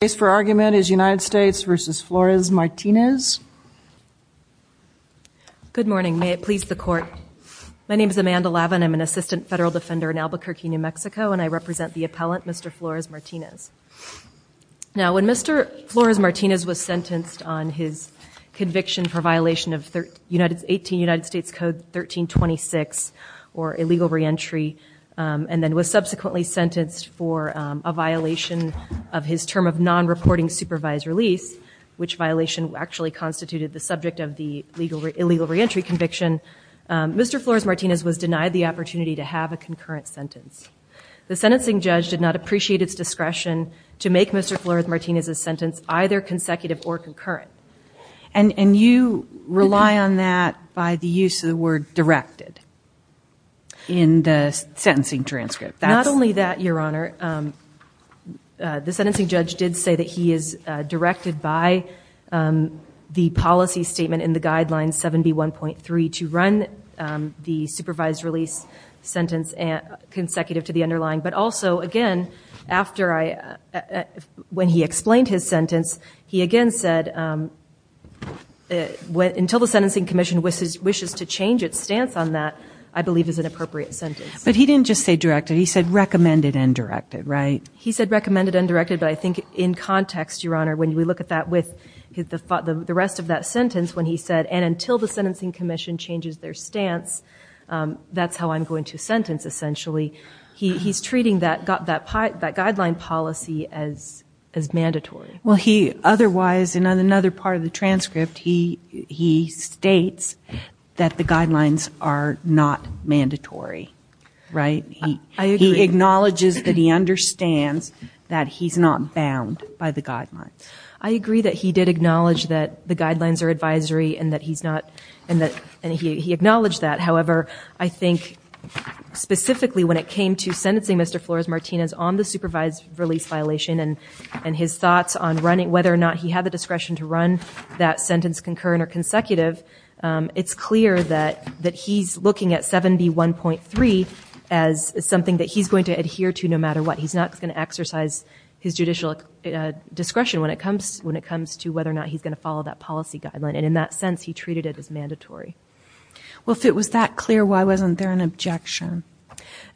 The case for argument is United States v. Flores-Martinez. Good morning. May it please the Court. My name is Amanda Lavin. I'm an assistant federal defender in Albuquerque, New Mexico, and I represent the appellant, Mr. Flores-Martinez. Now, when Mr. Flores-Martinez was sentenced on his conviction for violation of 18 United States Code 1326, or illegal reentry, and then was subsequently sentenced for a violation of his term of non-reporting supervised release, which violation actually constituted the subject of the illegal reentry conviction, Mr. Flores-Martinez was denied the opportunity to have a concurrent sentence. The sentencing judge did not appreciate its discretion to make Mr. Flores-Martinez's sentence either consecutive or concurrent. And you rely on that by the use of the word directed in the sentencing transcript. Not only that, Your Honor, the sentencing judge did say that he is directed by the policy statement in the Guidelines 7B1.3 to run the supervised release sentence consecutive to the underlying. But also, again, after I, when he explained his sentence, he again said, until the sentencing commission wishes to change its stance on that, I believe is an appropriate sentence. But he didn't just say directed, he said recommended and directed, right? He said recommended and directed, but I think in context, Your Honor, when we look at that with the rest of that sentence, when he said, and until the sentencing commission changes their stance, that's how I'm going to sentence, essentially, he's treating that guideline policy as mandatory. Well, he otherwise, in another part of the transcript, he states that the guidelines are not mandatory, right? He acknowledges that he understands that he's not bound by the guidelines. I agree that he did acknowledge that the guidelines are advisory and that he's not, and he acknowledged that. However, I think specifically when it came to sentencing Mr. Flores-Martinez on the supervised release violation and his thoughts on whether or not he had the discretion to run that sentence concurrent or consecutive, it's clear that he's looking at 71.3 as something that he's going to adhere to no matter what. He's not going to exercise his judicial discretion when it comes to whether or not he's going to follow that policy guideline. And in that sense, he treated it as mandatory. Well, if it was that clear, why wasn't there an objection?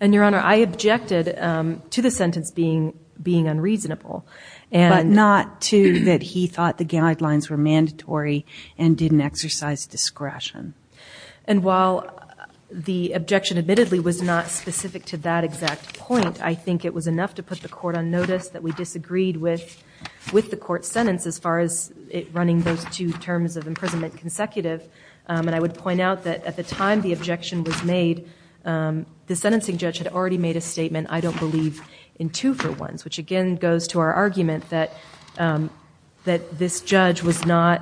And, Your Honor, I objected to the sentence being unreasonable. But not to that he thought the guidelines were mandatory and didn't exercise discretion. And while the objection admittedly was not specific to that exact point, I think it was enough to put the court on notice that we disagreed with the court's sentence as far as it running those two terms of imprisonment consecutive. And I would point out that at the time the objection was made, the sentencing judge had already made a statement, I don't believe in two for ones, which again goes to our argument that this judge was not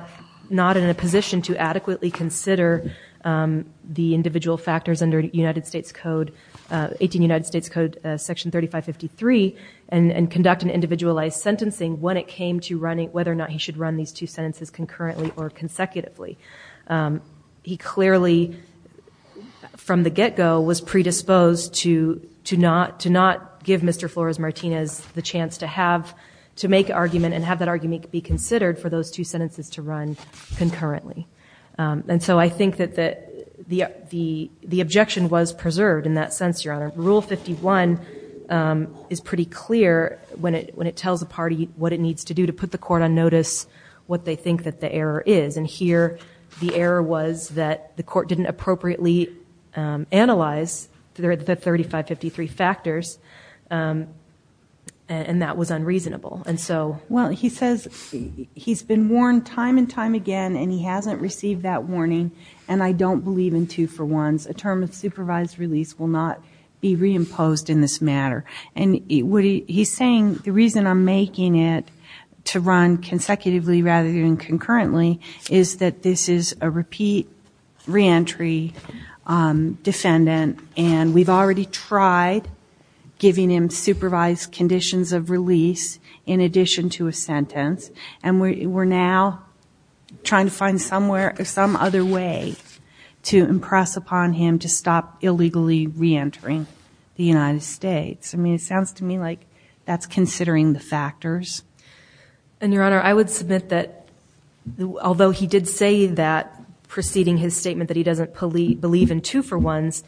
in a position to adequately consider the individual factors under United States Code, 18 United States Code section 3553 and conduct an individualized sentencing when it came to whether or not he should run these two sentences concurrently or consecutively. He clearly, from the get-go, was predisposed to not give Mr. Flores-Martinez the chance to make argument and have that argument be considered for those two sentences to run concurrently. And so I think that the objection was preserved in that sense, Your Honor. Rule 51 is pretty clear when it tells a party what it needs to do to put the court on notice what they think that the error is. And here the error was that the court didn't appropriately analyze the 3553 factors and that was unreasonable. Well, he says he's been warned time and time again and he hasn't received that warning and I don't believe in two for ones. A term of supervised release will not be reimposed in this matter. And he's saying the reason I'm making it to run consecutively rather than concurrently is that this is a repeat reentry defendant and we've already tried giving him supervised conditions of release in addition to a sentence and we're now trying to find some other way to impress upon him to stop illegally reentering the United States. I mean, it sounds to me like that's considering the factors. And, Your Honor, I would submit that although he did say that preceding his statement that he doesn't believe in two for ones,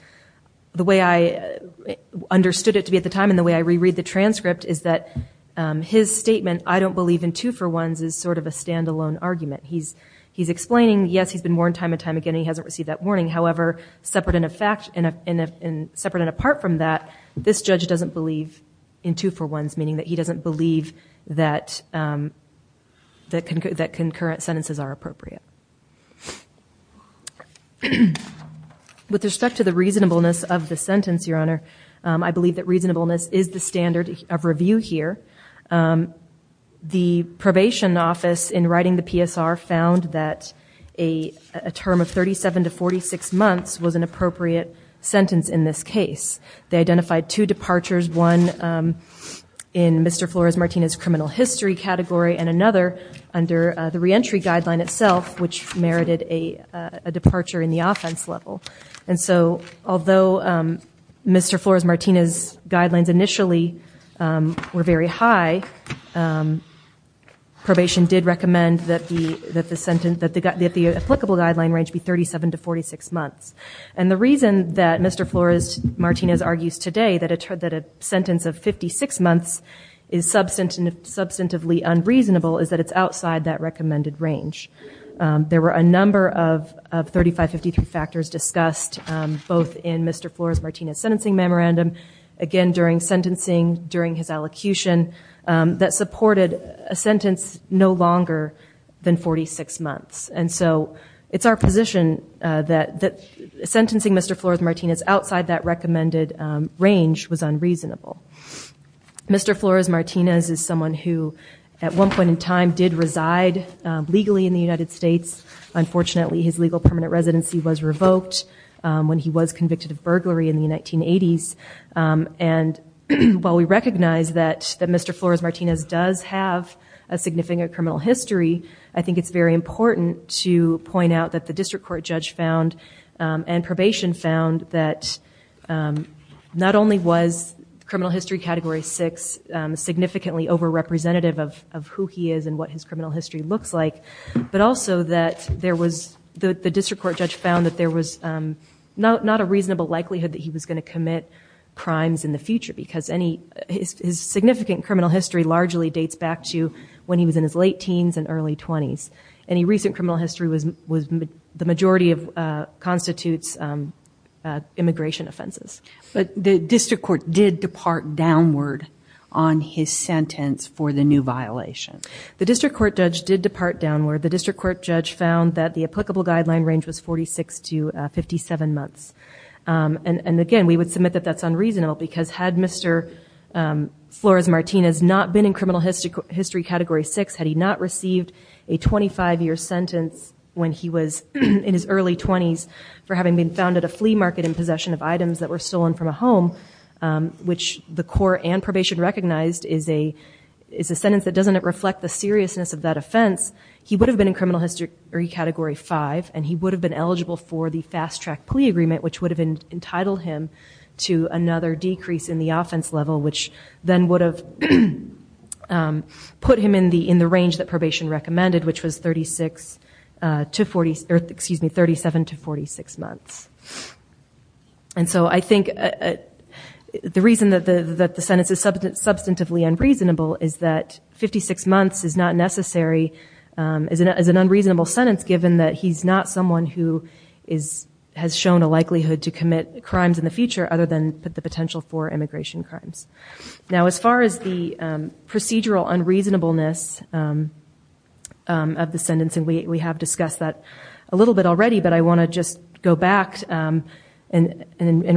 the way I understood it to be at the time and the way I reread the transcript is that his statement, I don't believe in two for ones, is sort of a standalone argument. He's explaining, yes, he's been warned time and time again and he hasn't received that warning. However, separate and apart from that, this judge doesn't believe in two for ones, meaning that he doesn't believe that concurrent sentences are appropriate. With respect to the reasonableness of the sentence, Your Honor, I believe that reasonableness is the standard of review here. The probation office in writing the PSR found that a term of 37 to 46 months was an appropriate sentence in this case. They identified two departures, one in Mr. Flores-Martinez's criminal history category and another under the reentry guideline itself which merited a departure in the offense level. And so although Mr. Flores-Martinez's guidelines initially were very high, probation did recommend that the applicable guideline range be 37 to 46 months. And the reason that Mr. Flores-Martinez argues today that a sentence of 56 months is substantively unreasonable is that it's outside that recommended range. There were a number of 3553 factors discussed both in Mr. Flores-Martinez's sentencing memorandum, again during sentencing, during his allocution, that supported a sentence no longer than 46 months. And so it's our position that sentencing Mr. Flores-Martinez outside that recommended range was unreasonable. Mr. Flores-Martinez is someone who at one point in time did reside legally in the United States. Unfortunately, his legal permanent residency was revoked when he was convicted of burglary in the 1980s. And while we recognize that Mr. Flores-Martinez does have a significant criminal history, I think it's very important to point out that the district court judge found and probation found that not only was criminal history category 6 significantly over-representative of who he is and what his criminal history looks like, but also that the district court judge found that there was not a reasonable likelihood that he was going to commit crimes in the future because his significant criminal history largely dates back to when he was in his late teens and early 20s. Any recent criminal history constitutes immigration offenses. But the district court did depart downward on his sentence for the new violation. The district court judge did depart downward. The district court judge found that the applicable guideline range was 46 to 57 months. And again, we would submit that that's unreasonable because had Mr. Flores-Martinez not been in criminal history category 6, had he not received a 25-year sentence when he was in his early 20s for having been found at a flea market in possession of items that were stolen from a home, which the court and probation recognized is a sentence that doesn't reflect the seriousness of that offense, he would have been in criminal history category 5, and he would have been eligible for the fast-track plea agreement, which would have entitled him to another decrease in the offense level, which then would have put him in the range that probation recommended, which was 37 to 46 months. And so I think the reason that the sentence is substantively unreasonable is that 56 months is not necessary as an unreasonable sentence given that he's not someone who has shown a likelihood to commit crimes in the future other than the potential for immigration crimes. Now, as far as the procedural unreasonableness of the sentencing, we have discussed that a little bit already, but I want to just go back and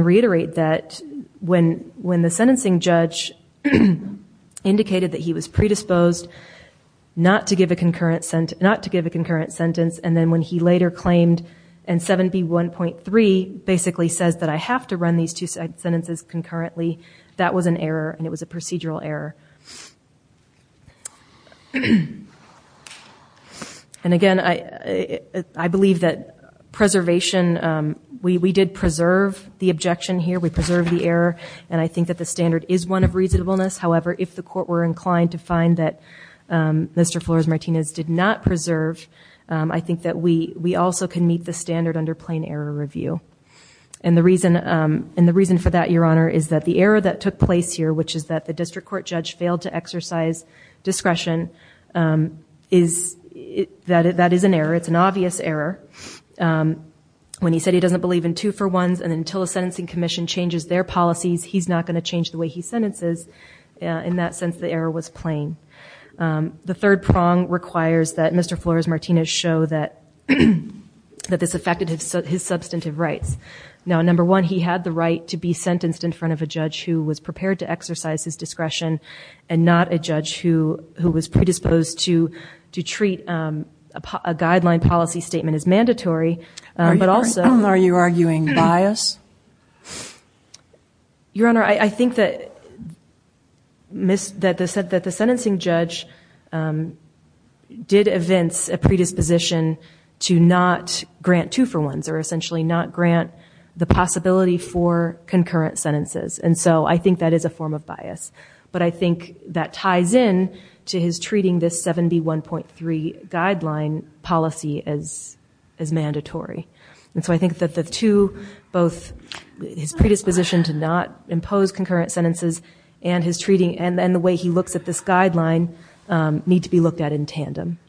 reiterate that when the sentencing judge indicated that he was predisposed not to give a concurrent sentence, and then when he later claimed in 7B1.3 basically says that I have to run these two sentences concurrently, that was an error, and it was a procedural error. And again, I believe that preservation, we did preserve the objection here. We preserved the error, and I think that the standard is one of reasonableness. However, if the court were inclined to find that Mr. Flores-Martinez did not preserve, I think that we also can meet the standard under plain error review. And the reason for that, Your Honor, is that the error that took place here, which is that the district court judge failed to exercise discretion, that is an error. It's an obvious error. When he said he doesn't believe in two-for-ones and until a sentencing commission changes their policies, he's not going to change the way he sentences. In that sense, the error was plain. The third prong requires that Mr. Flores-Martinez show that this affected his substantive rights. Now, number one, he had the right to be sentenced in front of a judge who was prepared to exercise his discretion and not a judge who was predisposed to treat a guideline policy statement as mandatory. Are you arguing bias? Your Honor, I think that the sentencing judge did evince a predisposition to not grant two-for-ones or essentially not grant the possibility for concurrent sentences. And so I think that is a form of bias. But I think that ties in to his treating this 7B1.3 guideline policy as mandatory. And so I think that the two, both his predisposition to not impose concurrent sentences and the way he looks at this guideline need to be looked at in tandem.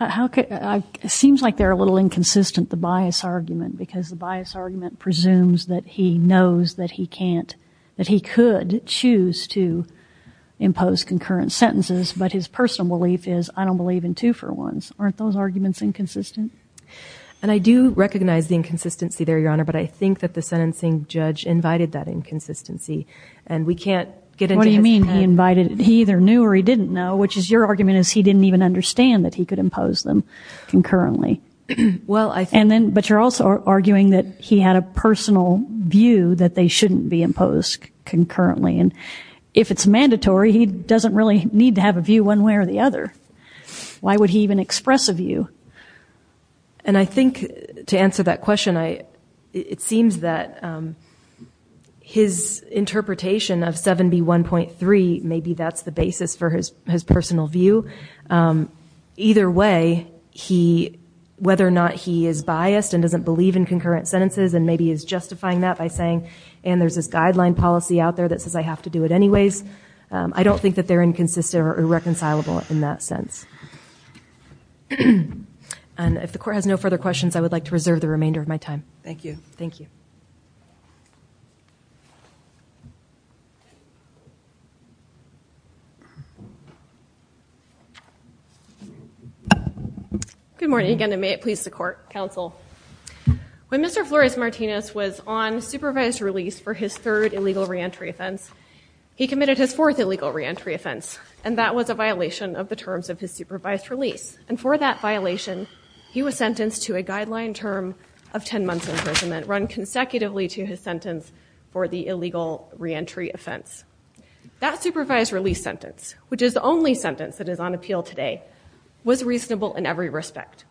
It seems like they're a little inconsistent, the bias argument, because the bias argument presumes that he knows that he could choose to impose concurrent sentences, but his personal belief is I don't believe in two-for-ones. Aren't those arguments inconsistent? And I do recognize the inconsistency there, Your Honor, but I think that the sentencing judge invited that inconsistency. And we can't get into his plan. What do you mean he invited it? He either knew or he didn't know, which is your argument is he didn't even understand that he could impose them concurrently. Well, I think... But you're also arguing that he had a personal view that they shouldn't be imposed concurrently. And if it's mandatory, he doesn't really need to have a view one way or the other. Why would he even express a view? And I think to answer that question, it seems that his interpretation of 7B1.3, maybe that's the basis for his personal view. Either way, whether or not he is biased and doesn't believe in concurrent sentences and maybe is justifying that by saying, and there's this guideline policy out there that says I have to do it anyways, I don't think that they're inconsistent or irreconcilable in that sense. And if the Court has no further questions, I would like to reserve the remainder of my time. Thank you. Thank you. Good morning again, and may it please the Court, Counsel. When Mr. Flores-Martinez was on supervised release for his third illegal reentry offense, he committed his fourth illegal reentry offense, and that was a violation of the terms of his supervised release. And for that violation, he was sentenced to a guideline term of 10 months imprisonment, run consecutively to his sentence for the illegal reentry offense. That supervised release sentence, which is the only sentence that is on appeal today, was reasonable in every respect.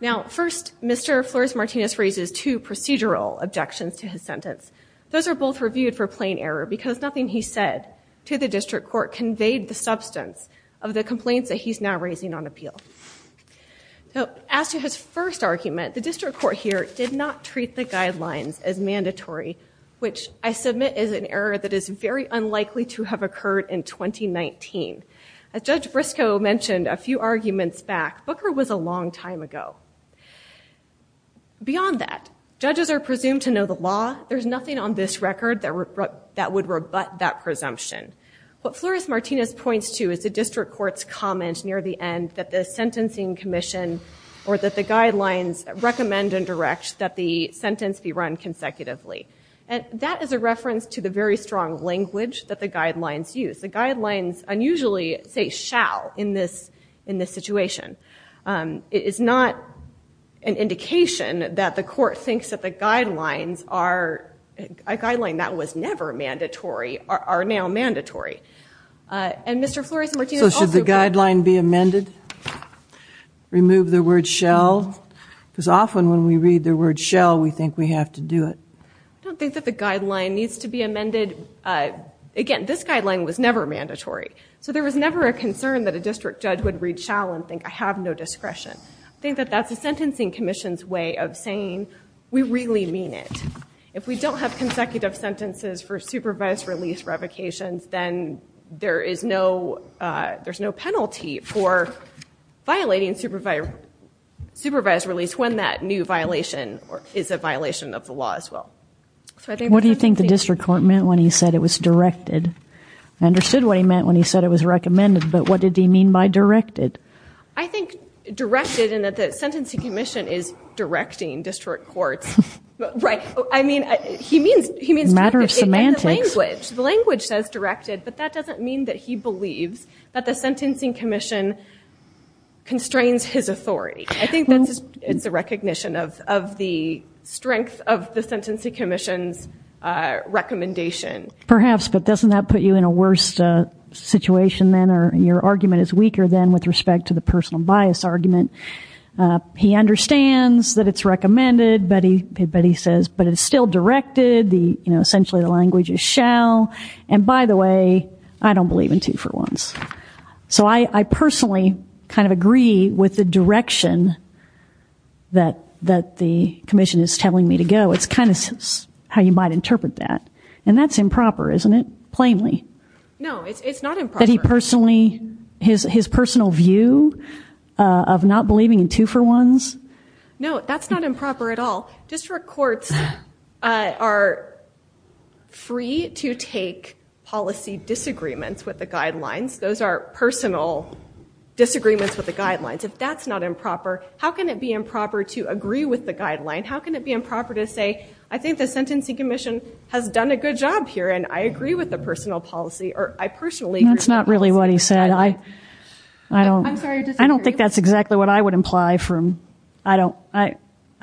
Now, first, Mr. Flores-Martinez raises two procedural objections to his sentence. Those are both reviewed for plain error because nothing he said to the District Court conveyed the substance of the complaints that he's now raising on appeal. Now, as to his first argument, the District Court here did not treat the guidelines as mandatory, which I submit is an error that is very unlikely to have occurred in 2019. As Judge Briscoe mentioned a few arguments back, Booker was a long time ago. Beyond that, judges are presumed to know the law. There's nothing on this record that would rebut that presumption. What Flores-Martinez points to is the District Court's comment near the end that the sentencing commission or that the guidelines recommend and direct that the sentence be run consecutively. And that is a reference to the very strong language that the guidelines use. The guidelines unusually say shall in this situation. It is not an indication that the court thinks that the guidelines are a guideline that was never mandatory are now mandatory. And Mr. Flores-Martinez also- So should the guideline be amended? Remove the word shall? Because often when we read the word shall, we think we have to do it. I don't think that the guideline needs to be amended. Again, this guideline was never mandatory. So there was never a concern that a district judge would read shall and think I have no discretion. I think that that's the sentencing commission's way of saying we really mean it. If we don't have consecutive sentences for supervised release revocations, then there is no penalty for violating supervised release when that new violation is a violation of the law as well. What do you think the District Court meant when he said it was directed? I understood what he meant when he said it was recommended, but what did he mean by directed? I think directed in that the sentencing commission is directing district courts. Right. I mean, he means- Matter of semantics. Language. The language says directed, but that doesn't mean that he believes that the sentencing commission constrains his authority. I think it's a recognition of the strength of the sentencing commission's recommendation. Perhaps, but doesn't that put you in a worse situation then or your argument is weaker then with respect to the personal bias argument? He understands that it's recommended, but he says, but it's still directed. Essentially the language is shall. And by the way, I don't believe in two for ones. So I personally kind of agree with the direction that the commission is telling me to go. It's kind of how you might interpret that. And that's improper, isn't it? Plainly. No, it's not improper. His personal view of not believing in two for ones? No, that's not improper at all. District courts are free to take policy disagreements with the guidelines. Those are personal disagreements with the guidelines. If that's not improper, how can it be improper to agree with the guideline? How can it be improper to say, I think the sentencing commission has done a good job here and I agree with the personal policy or I personally agree with the policy? That's not really what he said. I don't think that's exactly what I would imply from I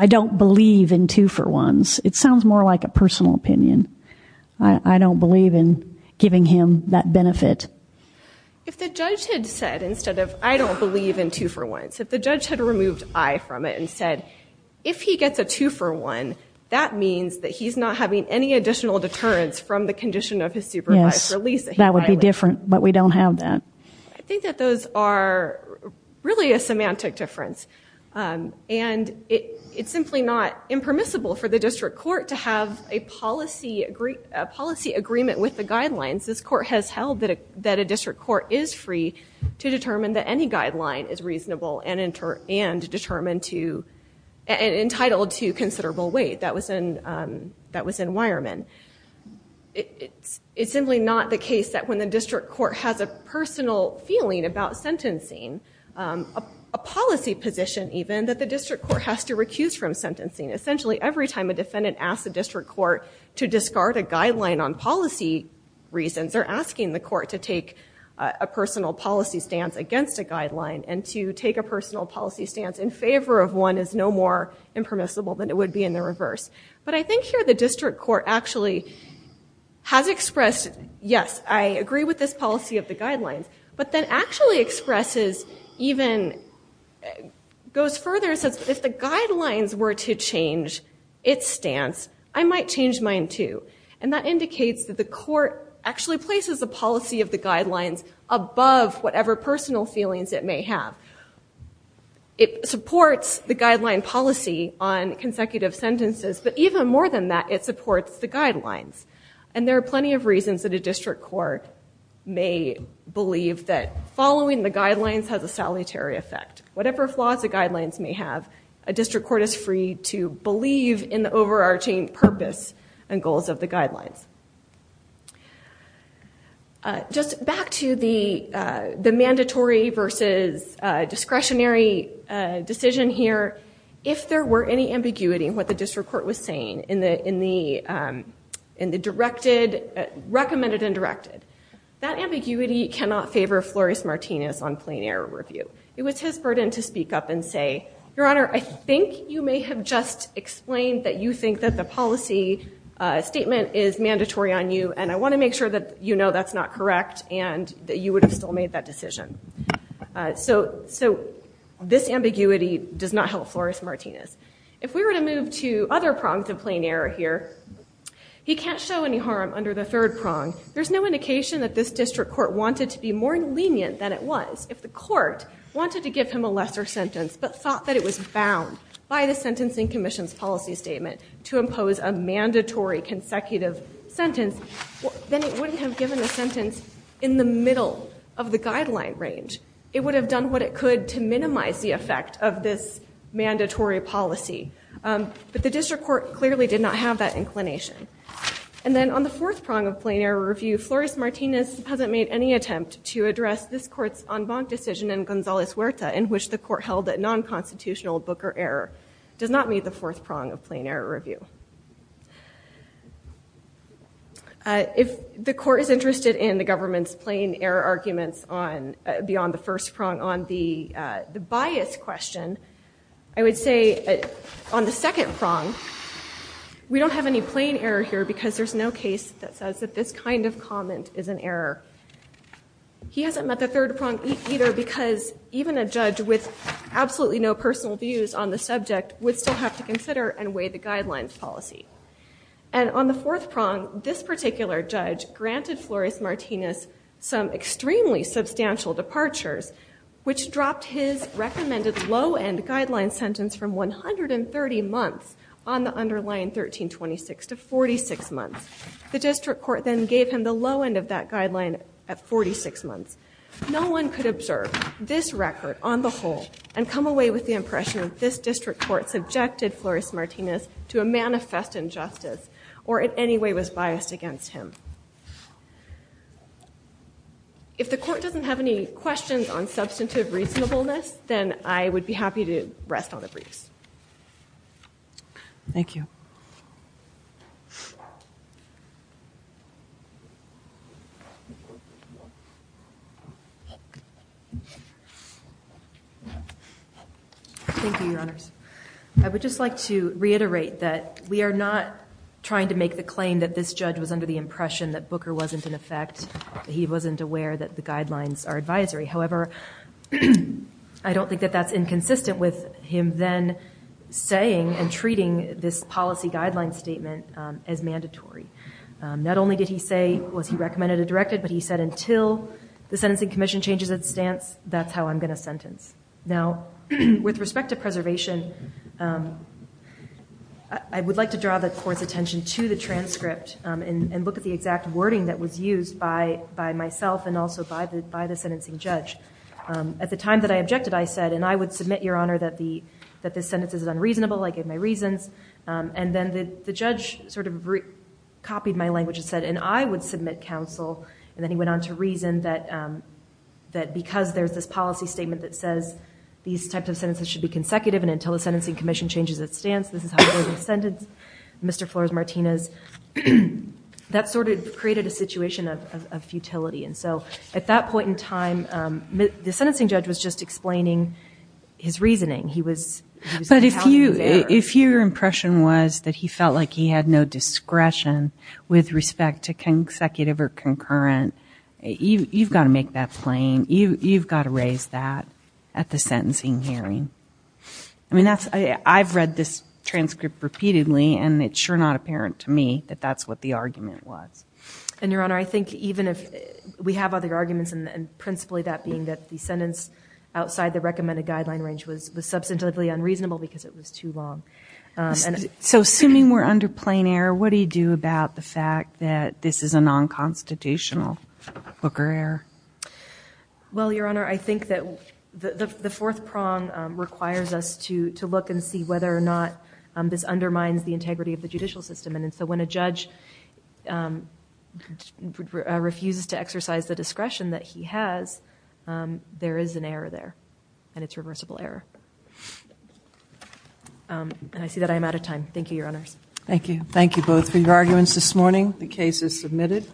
don't believe in two for ones. It sounds more like a personal opinion. I don't believe in giving him that benefit. If the judge had said instead of I don't believe in two for ones, if the judge had removed I from it and said if he gets a two for one, that means that he's not having any additional deterrence from the condition of his supervised release. That would be different, but we don't have that. I think that those are really a semantic difference. And it's simply not impermissible for the district court to have a policy agreement with the guidelines. This court has held that a district court is free to determine that any guideline is reasonable and entitled to considerable weight. That was in Wireman. It's simply not the case that when the district court has a personal feeling about sentencing, a policy position even, that the district court has to recuse from sentencing. Essentially every time a defendant asks a district court to discard a guideline on policy reasons, they're asking the court to take a personal policy stance against a guideline and to take a personal policy stance in favor of one is no more impermissible than it would be in the reverse. But I think here the district court actually has expressed yes, I agree with this policy of the guidelines, but then actually expresses even, goes further and says, if the guidelines were to change its stance, I might change mine too. And that indicates that the court actually places the policy of the guidelines above whatever personal feelings it may have. It supports the guideline policy on consecutive sentences, but even more than that, it supports the guidelines. And there are plenty of reasons that a district court may believe that following the guidelines has a solitary effect. Whatever flaws the guidelines may have, a district court is free to believe in the overarching purpose and goals of the guidelines. Just back to the mandatory versus discretionary decision here. If there were any ambiguity in what the district court was saying in the recommended and directed, that ambiguity cannot favor Flores-Martinez on plain error review. It was his burden to speak up and say, your honor, I think you may have just explained that you think that the policy statement is mandatory on you and I want to make sure that you know that's not correct and that you would have still made that decision. So this ambiguity does not help Flores-Martinez. If we were to move to other prongs of plain error here, he can't show any harm under the third prong. There's no indication that this district court wanted to be more lenient than it was. If the court wanted to give him a lesser sentence, but thought that it was bound by the Sentencing Commission's policy statement to impose a mandatory consecutive sentence, then it wouldn't have given a sentence in the middle of the guideline range. It would have done what it could to minimize the effect of this mandatory policy. But the district court clearly did not have that inclination. And then on the fourth prong of plain error review, Flores-Martinez hasn't made any attempt to address this court's en banc decision in Gonzalez-Huerta in which the court held that non-constitutional booker error does not meet the fourth prong of plain error review. If the court is interested in the government's plain error arguments beyond the first prong on the bias question, I would say on the second prong we don't have any plain error here because there's no case that says that this kind of comment is an error. He hasn't met the third prong either because even a judge with absolutely no personal views on the subject would still have to consider and weigh the guidelines policy. And on the fourth prong, this particular judge granted Flores-Martinez some extremely substantial departures which dropped his recommended low-end guideline sentence from 130 months on the underlying 1326 to 46 months. The district court then gave him the low end of that guideline at 46 months. No one could observe this record on the whole and come away with the impression that this district court subjected Flores-Martinez to a manifest injustice or in any way was biased against him. If the court doesn't have any questions on substantive reasonableness, then I would be happy to rest on the briefs. Thank you. Thank you, Your Honors. I would just like to reiterate that we are not trying to make the claim that this judge was under the impression that Booker wasn't in effect, that he wasn't aware that the guidelines are advisory. However, I don't think that that's inconsistent with him then saying and treating this policy guideline statement as mandatory. Not only did he say, was he recommended or directed, but he said until the Sentencing Commission changes its stance, that's how I'm going to sentence. Now, with respect to preservation, I would like to draw the court's attention to the transcript and look at the exact wording that was used by myself and also by the sentencing judge. At the time that I objected, I said, and I would submit, Your Honor, that this sentence is unreasonable. I gave my reasons. And then the judge sort of copied my language and said, and I would submit counsel. And then he went on to reason that because there's this policy statement that says these types of sentences should be consecutive and until the Sentencing Commission changes its stance, this is how I'm going to sentence Mr. Flores-Martinez. That sort of created a situation of futility. And so at that point in time, the sentencing judge was just explaining his reasoning. But if your impression was that he felt like he had no discretion with respect to consecutive or concurrent, you've got to make that plain. You've got to raise that at the sentencing hearing. I mean, I've read this transcript repeatedly, and it's sure not apparent to me that that's what the argument was. And, Your Honor, I think even if we have other arguments, and principally that being that the sentence outside the recommended guideline range was substantively unreasonable because it was too long. So assuming we're under plain error, what do you do about the fact that this is a non-constitutional Booker error? Well, Your Honor, I think that the fourth prong requires us to look and see whether or not this undermines the integrity of the judicial system. And so when a judge refuses to exercise the discretion that he has, there is an error there, and it's reversible error. And I see that I am out of time. Thank you, Your Honors. Thank you. Thank you both for your arguments this morning. The case is submitted.